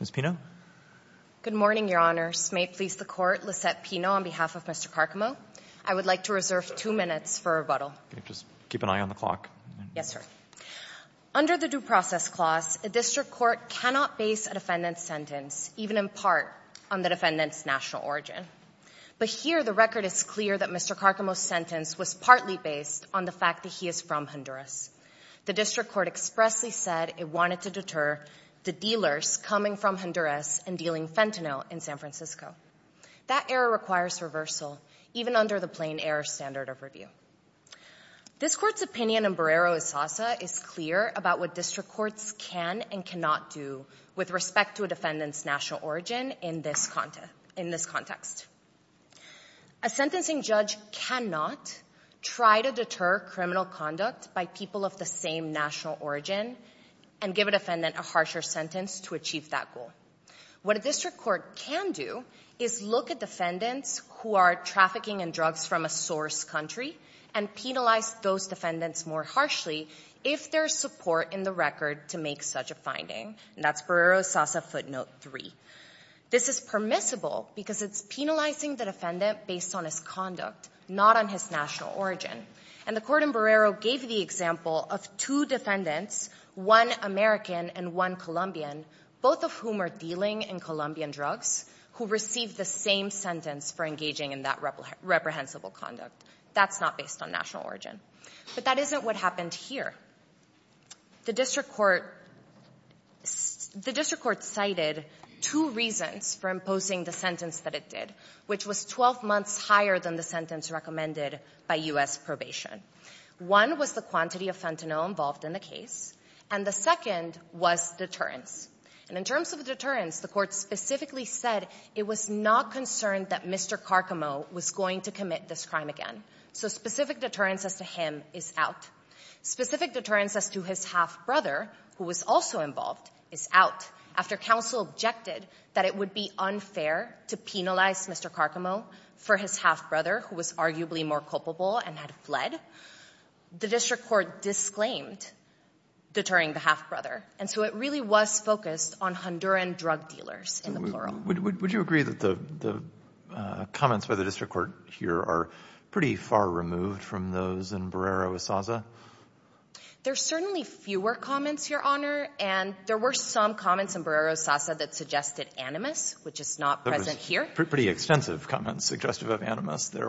Ms. Pino. Good morning, Your Honors. May it please the Court, Lissette Pino on behalf of Mr. Carcamo. I would like to reserve two minutes for rebuttal. Just keep an eye on the clock. Yes, sir. Under the due process clause, a district court cannot base a defendant's sentence, even in part, on the defendant's national origin. But here, the record is clear that Mr. Carcamo's sentence was partly based on the fact that he is from Honduras. The district court expressly said it wanted to deter the dealers coming from Honduras and dealing fentanyl in San Francisco. That error requires reversal, even under the plain-error standard of review. This Court's opinion in Barrero-Esasa is clear about what district courts can and cannot do with respect to a defendant's national origin in this context. A sentencing judge cannot try to deter criminal conduct by people of the same national origin and give a defendant a harsher sentence to achieve that goal. What a district court can do is look at defendants who are trafficking in drugs from a source country and penalize those defendants more harshly if there is support in the record to make such a finding. And that's Barrero-Esasa footnote 3. This is permissible because it's penalizing the defendant based on his conduct, not on his national origin. And the court in Barrero gave the example of two defendants, one American and one Colombian, both of whom are dealing in Colombian drugs, who received the same sentence for engaging in that reprehensible conduct. That's not based on national origin. But that isn't what happened here. The district court cited two reasons for imposing the sentence that it did, which was 12 months higher than the sentence recommended by U.S. probation. One was the quantity of fentanyl involved in the case, and the second was deterrence. And in terms of deterrence, the Court specifically said it was not concerned that Mr. Carcamo was going to commit this crime again. So specific deterrence as to him is out. Specific deterrence as to his half-brother, who was also involved, is out. After counsel objected that it would be unfair to penalize Mr. Carcamo for his half-brother, who was arguably more culpable and had fled, the district court disclaimed deterring the half-brother. And so it really was focused on Honduran drug dealers, in the plural. Would you agree that the comments by the district court here are pretty far removed from those in Barrero-Osasa? There are certainly fewer comments, Your Honor. And there were some comments in Barrero-Osasa that suggested animus, which is not present here. There were pretty extensive comments suggestive of animus there.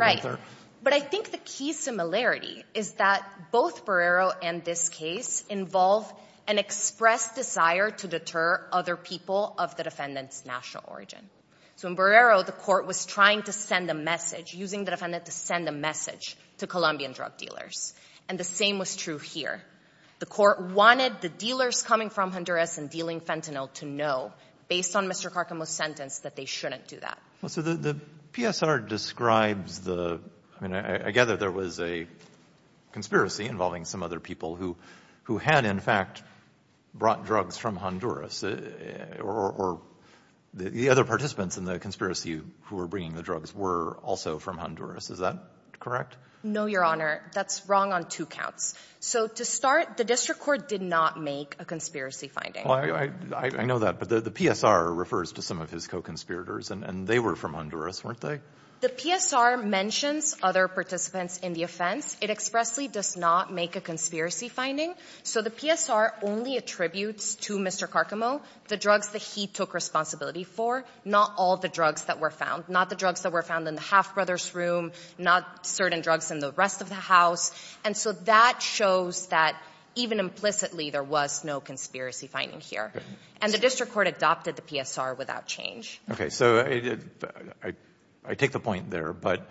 But I think the key similarity is that both Barrero and this case involve an expressed desire to deter other people of the defendant's national origin. So in Barrero, the court was trying to send a message, using the defendant to send a message to Colombian drug dealers. And the same was true here. The court wanted the dealers coming from Honduras and dealing fentanyl to know, based on Mr. Carcamo's sentence, that they shouldn't do that. Well, so the PSR describes the — I mean, I gather there was a conspiracy involving some other people who had, in fact, brought drugs from Honduras. Or the other participants in the conspiracy who were bringing the drugs were also from Honduras. Is that correct? No, Your Honor. That's wrong on two counts. So to start, the district court did not make a conspiracy finding. Well, I know that. But the PSR refers to some of his co-conspirators, and they were from Honduras, weren't they? The PSR mentions other participants in the offense. It expressly does not make a conspiracy finding. So the PSR only attributes to Mr. Carcamo the drugs that he took responsibility for, not all the drugs that were found, not the drugs that were found in the Half Brothers' room, not certain drugs in the rest of the house. And so that shows that, even implicitly, there was no conspiracy finding here. And the district court adopted the PSR without change. Okay. So I take the point there, but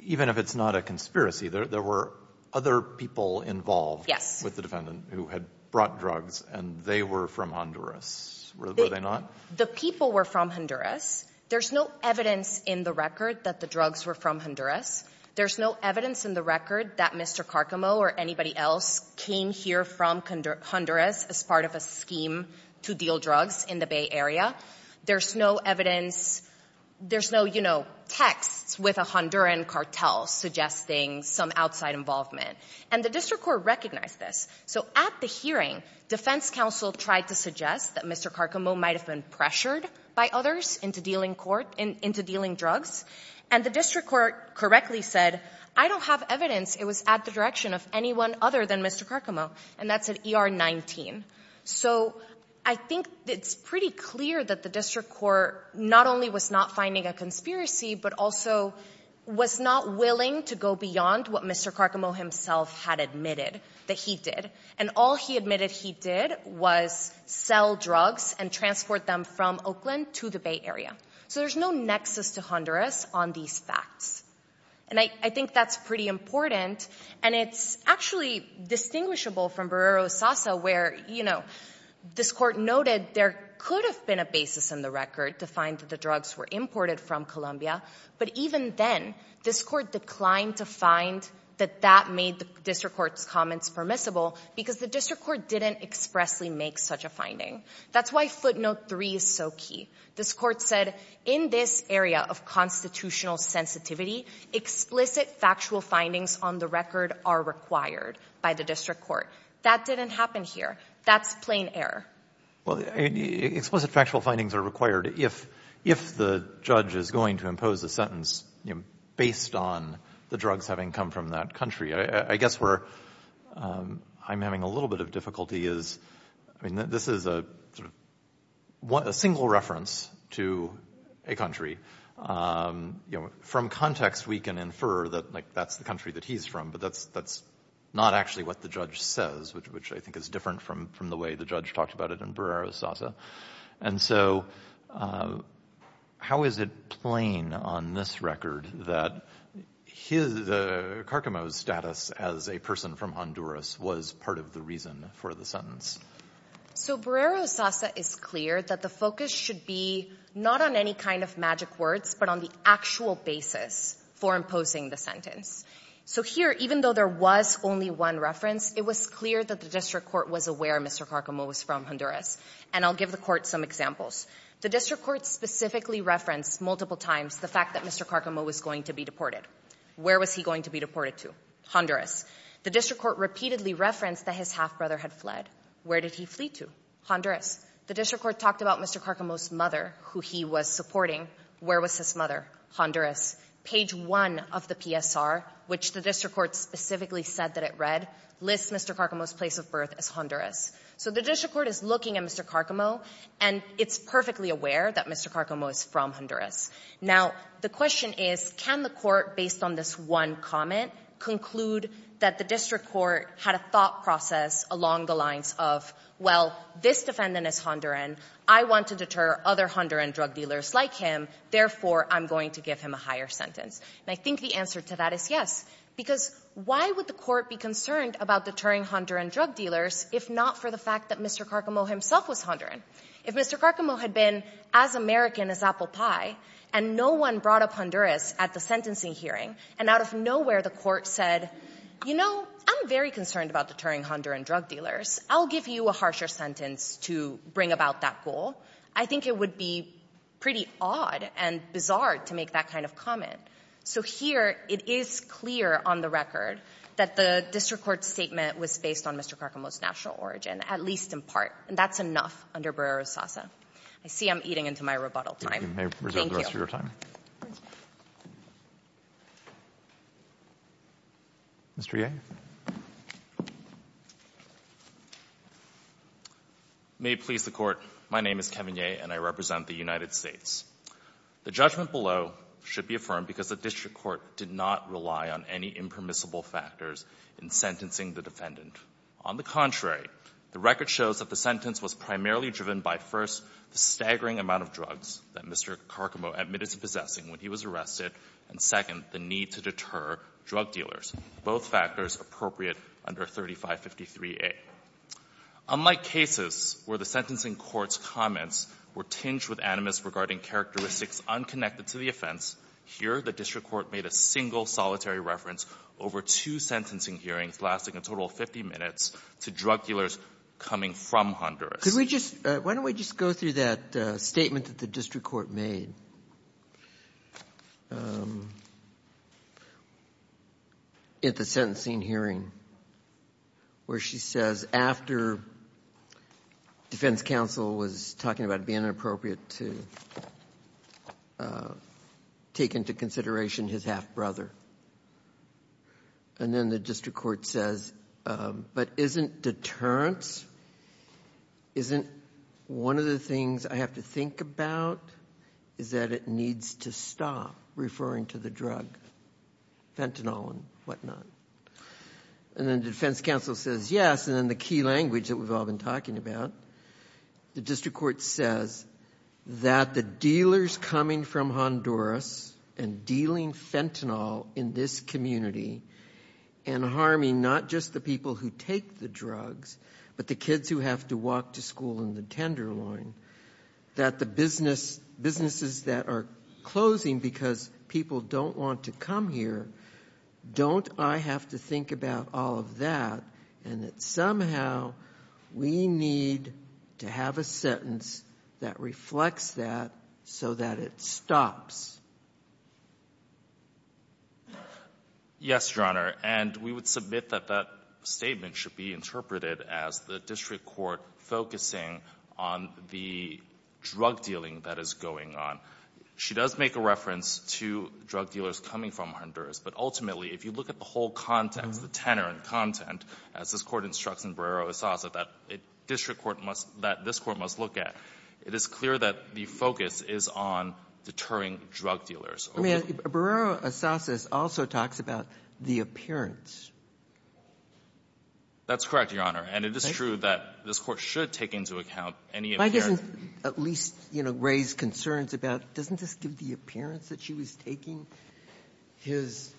even if it's not a conspiracy, there were other people involved with the defendant who had brought drugs, and they were from Honduras, were they not? The people were from Honduras. There's no evidence in the record that the drugs were from Honduras. There's no evidence in the record that Mr. Carcamo or anybody else came here from Honduras as part of a scheme to deal drugs in the Bay Area. There's no evidence. There's no, you know, texts with a Honduran cartel suggesting some outside involvement. And the district court recognized this. So at the hearing, defense counsel tried to suggest that Mr. Carcamo might have been pressured by others into dealing drugs. And the district court correctly said, I don't have evidence. It was at the direction of anyone other than Mr. Carcamo. And that's at ER 19. So I think it's pretty clear that the district court not only was not finding a conspiracy, but also was not willing to go beyond what Mr. Carcamo himself had admitted that he did. And all he admitted he did was sell drugs and transport them from Oakland to the Bay Area. So there's no nexus to Honduras on these facts. And I think that's pretty important, and it's actually distinguishable from what, you know, this court noted there could have been a basis in the record to find that the drugs were imported from Colombia. But even then, this court declined to find that that made the district court's comments permissible because the district court didn't expressly make such a That's why footnote three is so key. This court said, in this area of constitutional sensitivity, explicit factual findings on the record are required by the district court. That didn't happen here. That's plain error. Well, explicit factual findings are required if the judge is going to impose a sentence, you know, based on the drugs having come from that country. I guess where I'm having a little bit of difficulty is, I mean, this is a single reference to a country. You know, from context, we can infer that, like, that's the country that he's from, but that's not actually what the judge says, which I think is different from the way the judge talked about it in Barrera-Sasa. And so how is it plain on this record that Carcamo's status as a person from Honduras was part of the reason for the sentence? So Barrera-Sasa is clear that the focus should be not on any kind of magic words, but on the actual basis for imposing the sentence. So here, even though there was only one reference, it was clear that the district court was aware Mr. Carcamo was from Honduras. And I'll give the court some examples. The district court specifically referenced multiple times the fact that Mr. Carcamo was going to be deported. Where was he going to be deported to? Honduras. The district court repeatedly referenced that his half-brother had fled. Where did he flee to? The district court talked about Mr. Carcamo's mother, who he was supporting. Where was his mother? Honduras. Page 1 of the PSR, which the district court specifically said that it read, lists Mr. Carcamo's place of birth as Honduras. So the district court is looking at Mr. Carcamo, and it's perfectly aware that Mr. Carcamo is from Honduras. Now, the question is, can the court, based on this one comment, conclude that the district court had a thought process along the lines of, well, this defendant is Honduran. I want to deter other Honduran drug dealers like him. Therefore, I'm going to give him a higher sentence. And I think the answer to that is yes. Because why would the court be concerned about deterring Honduran drug dealers if not for the fact that Mr. Carcamo himself was Honduran? If Mr. Carcamo had been as American as apple pie, and no one brought up Honduras at the sentencing hearing, and out of nowhere the court said, you know, I'm very concerned about deterring Honduran drug dealers. I'll give you a harsher sentence to bring about that goal. I think it would be pretty odd and bizarre to make that kind of comment. So here it is clear on the record that the district court's statement was based on Mr. Carcamo's national origin, at least in part. And that's enough under Brera-Rosasa. I see I'm eating into my rebuttal time. Mr. Yeager. Mr. Yeager. May it please the Court. My name is Kevin Yeager, and I represent the United States. The judgment below should be affirmed because the district court did not rely on any impermissible factors in sentencing the defendant. On the contrary, the record shows that the sentence was primarily driven by, first, the staggering amount of drugs that Mr. Carcamo admitted to possessing when he was drug dealers, both factors appropriate under 3553A. Unlike cases where the sentencing court's comments were tinged with animus regarding characteristics unconnected to the offense, here the district court made a single, solitary reference over two sentencing hearings lasting a total of 50 minutes to drug dealers coming from Honduras. Why don't we just go through that statement that the district court made? Okay. At the sentencing hearing where she says after defense counsel was talking about it being inappropriate to take into consideration his half-brother, and then the district court says, but isn't deterrence, isn't one of the things I have to think about, is that it needs to stop referring to the drug fentanyl and whatnot. And then defense counsel says, yes, and then the key language that we've all been talking about, the district court says that the dealers coming from Honduras and dealing fentanyl in this community and harming not just the people who take the drugs but the kids who have to walk to school in the Tenderloin, that the businesses that are closing because people don't want to come here, don't I have to think about all of that, and that somehow we need to have a sentence that reflects that so that it stops? Yes, Your Honor, and we would submit that that statement should be interpreted as the district court focusing on the drug dealing that is going on. She does make a reference to drug dealers coming from Honduras, but ultimately, if you look at the whole context, the tenor and content, as this Court instructs in Barrero-Esasso, that district court must – that this Court must look at, it is clear that the focus is on deterring drug dealers. I mean, Barrero-Esasso also talks about the appearance. That's correct, Your Honor, and it is true that this Court should take into account any appearance. Why doesn't at least, you know, raise concerns about doesn't this give the appearance that she was taking his,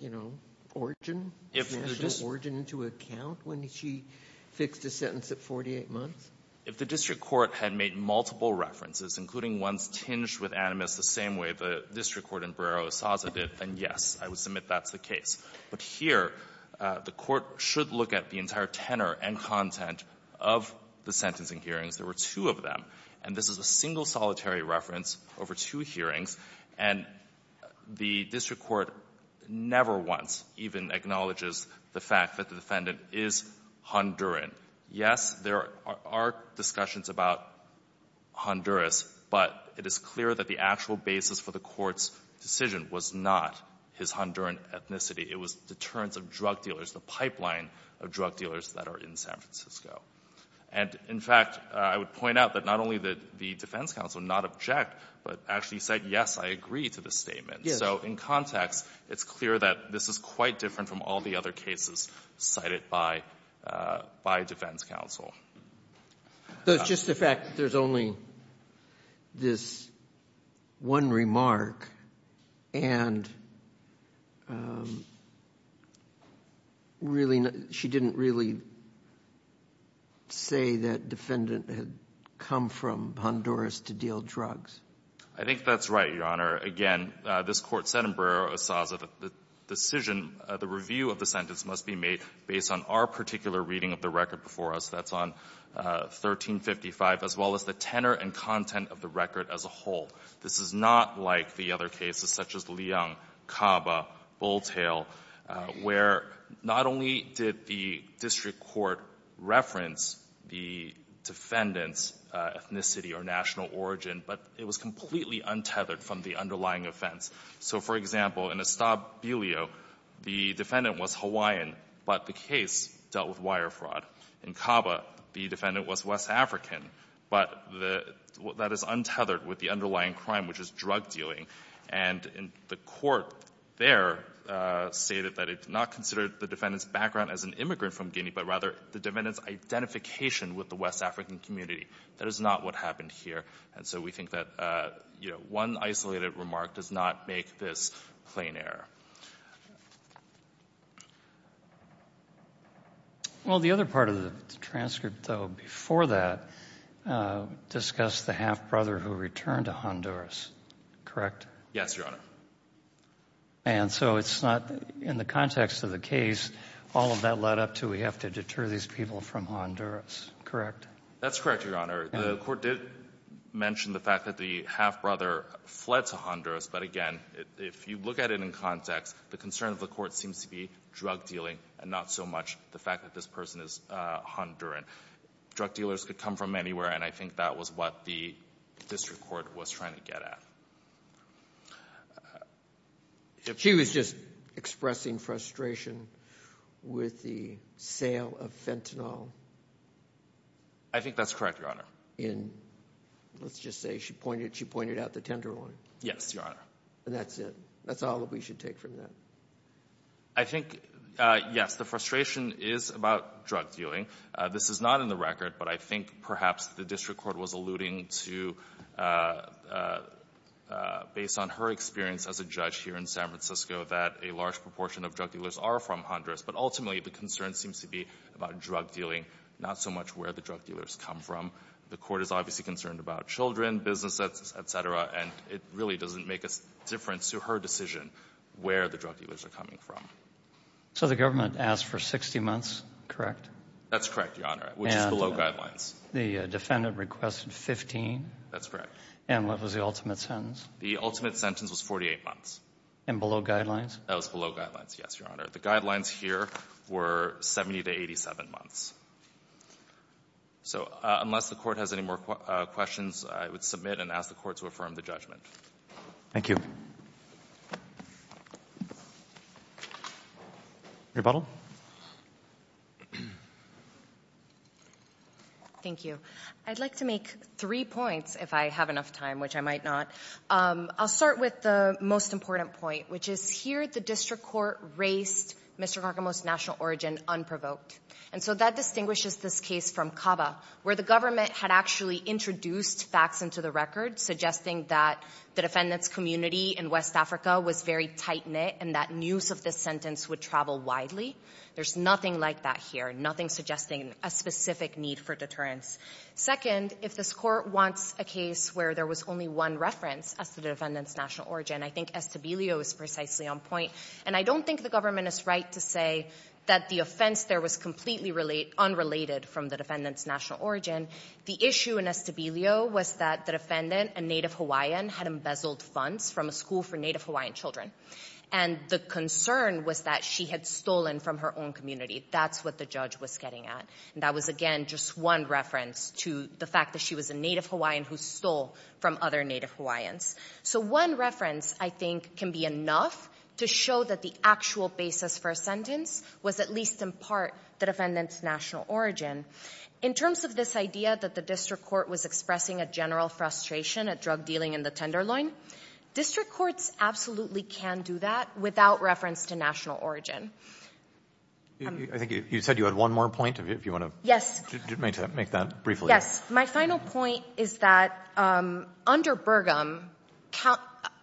you know, origin, national origin into account when she fixed a sentence at 48 months? If the district court had made multiple references, including ones tinged with animus the same way the district court in Barrero-Esasso did, then yes, I would submit that's the case. But here, the Court should look at the entire tenor and content of the sentencing hearings. There were two of them, and this is a single solitary reference over two hearings, and the district court never once even acknowledges the fact that the defendant is Honduran. Yes, there are discussions about Honduras, but it is clear that the actual basis for the Court's decision was not his Honduran ethnicity. It was deterrence of drug dealers, the pipeline of drug dealers that are in San Francisco. And, in fact, I would point out that not only did the defense counsel not object, but actually said, yes, I agree to this statement. So in context, it's clear that this is quite different from all the other cases cited by defense counsel. So it's just the fact that there's only this one remark, and really, she didn't really say that defendant had come from Honduras to deal drugs. I think that's right, Your Honor. Again, this Court said in Barrero-Esasso that the decision, the review of the sentence must be made based on our particular reading of the record before us. That's on 1355, as well as the tenor and content of the record as a whole. This is not like the other cases such as Leong, Caba, Bulltail, where not only did the district court reference the defendant's ethnicity or national origin, but it was completely untethered from the underlying offense. So, for example, in Estabbilio, the defendant was Hawaiian, but the case dealt with wire fraud. In Caba, the defendant was West African, but that is untethered with the underlying crime, which is drug dealing. And the Court there stated that it did not consider the defendant's background as an immigrant from Guinea, but rather the defendant's identification with the West African community. That is not what happened here. And so we think that, you know, one isolated remark does not make this plain error. Well, the other part of the transcript, though, before that, discussed the half-brother who returned to Honduras, correct? Yes, Your Honor. And so it's not in the context of the case, all of that led up to we have to deter these people from Honduras, correct? That's correct, Your Honor. The Court did mention the fact that the half-brother fled to Honduras, but again, if you look at it in context, the concern of the Court seems to be drug dealing and not so much the fact that this person is Honduran. Drug dealers could come from anywhere, and I think that was what the district court was trying to get at. She was just expressing frustration with the sale of Fentanyl. I think that's correct, Your Honor. In, let's just say she pointed out the tender line. Yes, Your Honor. And that's it. That's all that we should take from that. I think, yes, the frustration is about drug dealing. This is not in the record, but I think perhaps the district court was alluding to, based on her experience as a judge here in San Francisco, that a large proportion of drug dealers are from Honduras. But ultimately, the concern seems to be about drug dealing, not so much where the drug dealers come from. The Court is obviously concerned about children, business, et cetera, and it really doesn't make a difference to her decision where the drug dealers are coming from. So the government asked for 60 months, correct? That's correct, Your Honor, which is below guidelines. And the defendant requested 15? That's correct. And what was the ultimate sentence? The ultimate sentence was 48 months. And below guidelines? That was below guidelines, yes, Your Honor. The guidelines here were 70 to 87 months. So unless the Court has any more questions, I would submit and ask the Court to affirm the judgment. Thank you. Rebuttal. Thank you. I'd like to make three points, if I have enough time, which I might not. I'll start with the most important point, which is here the district court raised Mr. Carcamo's national origin unprovoked. And so that distinguishes this case from CABA, where the government had actually introduced facts into the record suggesting that the defendant's community in West Africa was very tight-knit and that news of this sentence would travel widely. There's nothing like that here, nothing suggesting a specific need for deterrence. Second, if this Court wants a case where there was only one reference as to the defendant's national origin, I think Estabilio is precisely on point. And I don't think the government is right to say that the offense there was completely unrelated from the defendant's national origin. The issue in Estabilio was that the defendant, a Native Hawaiian, had embezzled funds from a school for Native Hawaiian children. And the concern was that she had stolen from her own community. That's what the judge was getting at. And that was, again, just one reference to the fact that she was a Native Hawaiian who stole from other Native Hawaiians. So one reference, I think, can be enough to show that the actual basis for a sentence was at least in part the defendant's national origin. In terms of this idea that the district court was expressing a general frustration at drug dealing and the tenderloin, district courts absolutely can do that without reference to national origin. I think you said you had one more point, if you want to make that briefly. My final point is that under Burgum,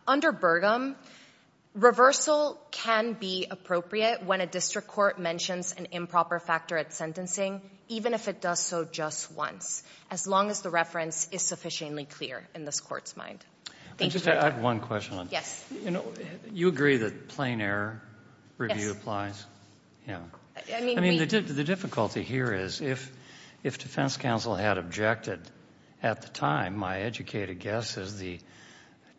under Burgum, reversal can be appropriate when a district court mentions an improper factor at sentencing, even if it does so just once, as long as the reference is sufficiently clear in this Court's mind. Thank you. I have one question. Yes. You know, you agree that plain error review applies? Yeah. I mean, we — I mean, the difficulty here is if defense counsel had objected at the time, my educated guess is the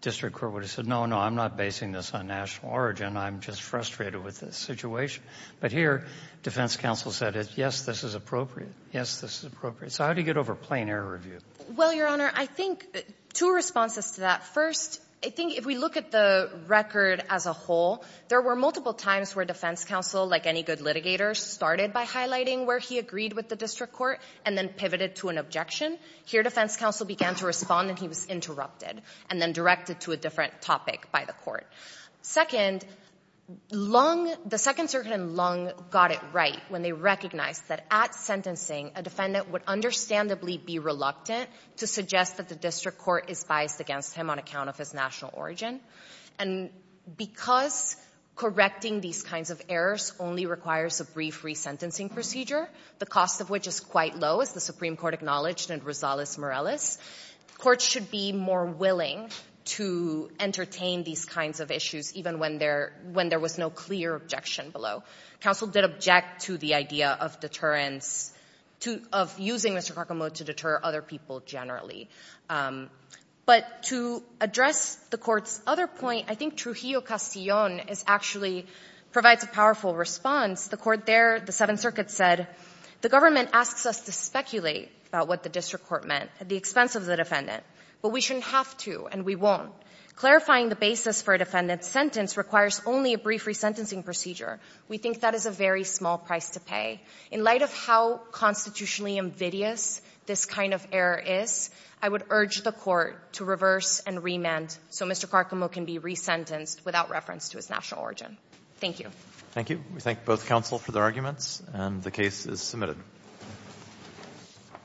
district court would have said, no, no, I'm not basing this on national origin. I'm just frustrated with this situation. But here, defense counsel said, yes, this is appropriate. Yes, this is appropriate. So how do you get over plain error review? Well, Your Honor, I think two responses to that. First, I think if we look at the record as a whole, there were multiple times where defense counsel, like any good litigator, started by highlighting where he agreed with the district court and then pivoted to an objection. Here, defense counsel began to respond and he was interrupted and then directed to a different topic by the court. Second, Lung — the Second Circuit in Lung got it right when they recognized that at sentencing, a defendant would understandably be reluctant to suggest that the district court is biased against him on account of his national origin. And because correcting these kinds of errors only requires a brief resentencing procedure, the cost of which is quite low, as the Supreme Court acknowledged in Rosales-Morales, courts should be more willing to entertain these kinds of issues even when there — when there was no clear objection below. Counsel did object to the idea of deterrence — of using Mr. Karkamode to deter other people generally. But to address the Court's other point, I think Trujillo-Castillon is actually — provides a powerful response. The Court there, the Seventh Circuit said, the government asks us to speculate about what the district court meant at the expense of the defendant, but we shouldn't have to and we won't. Clarifying the basis for a defendant's sentence requires only a brief resentencing procedure. We think that is a very small price to pay. In light of how constitutionally invidious this kind of error is, I would urge the Court to reverse and remand so Mr. Karkamode can be resentenced without reference to his national origin. Thank you. Thank you. We thank both counsel for their arguments, and the case is submitted.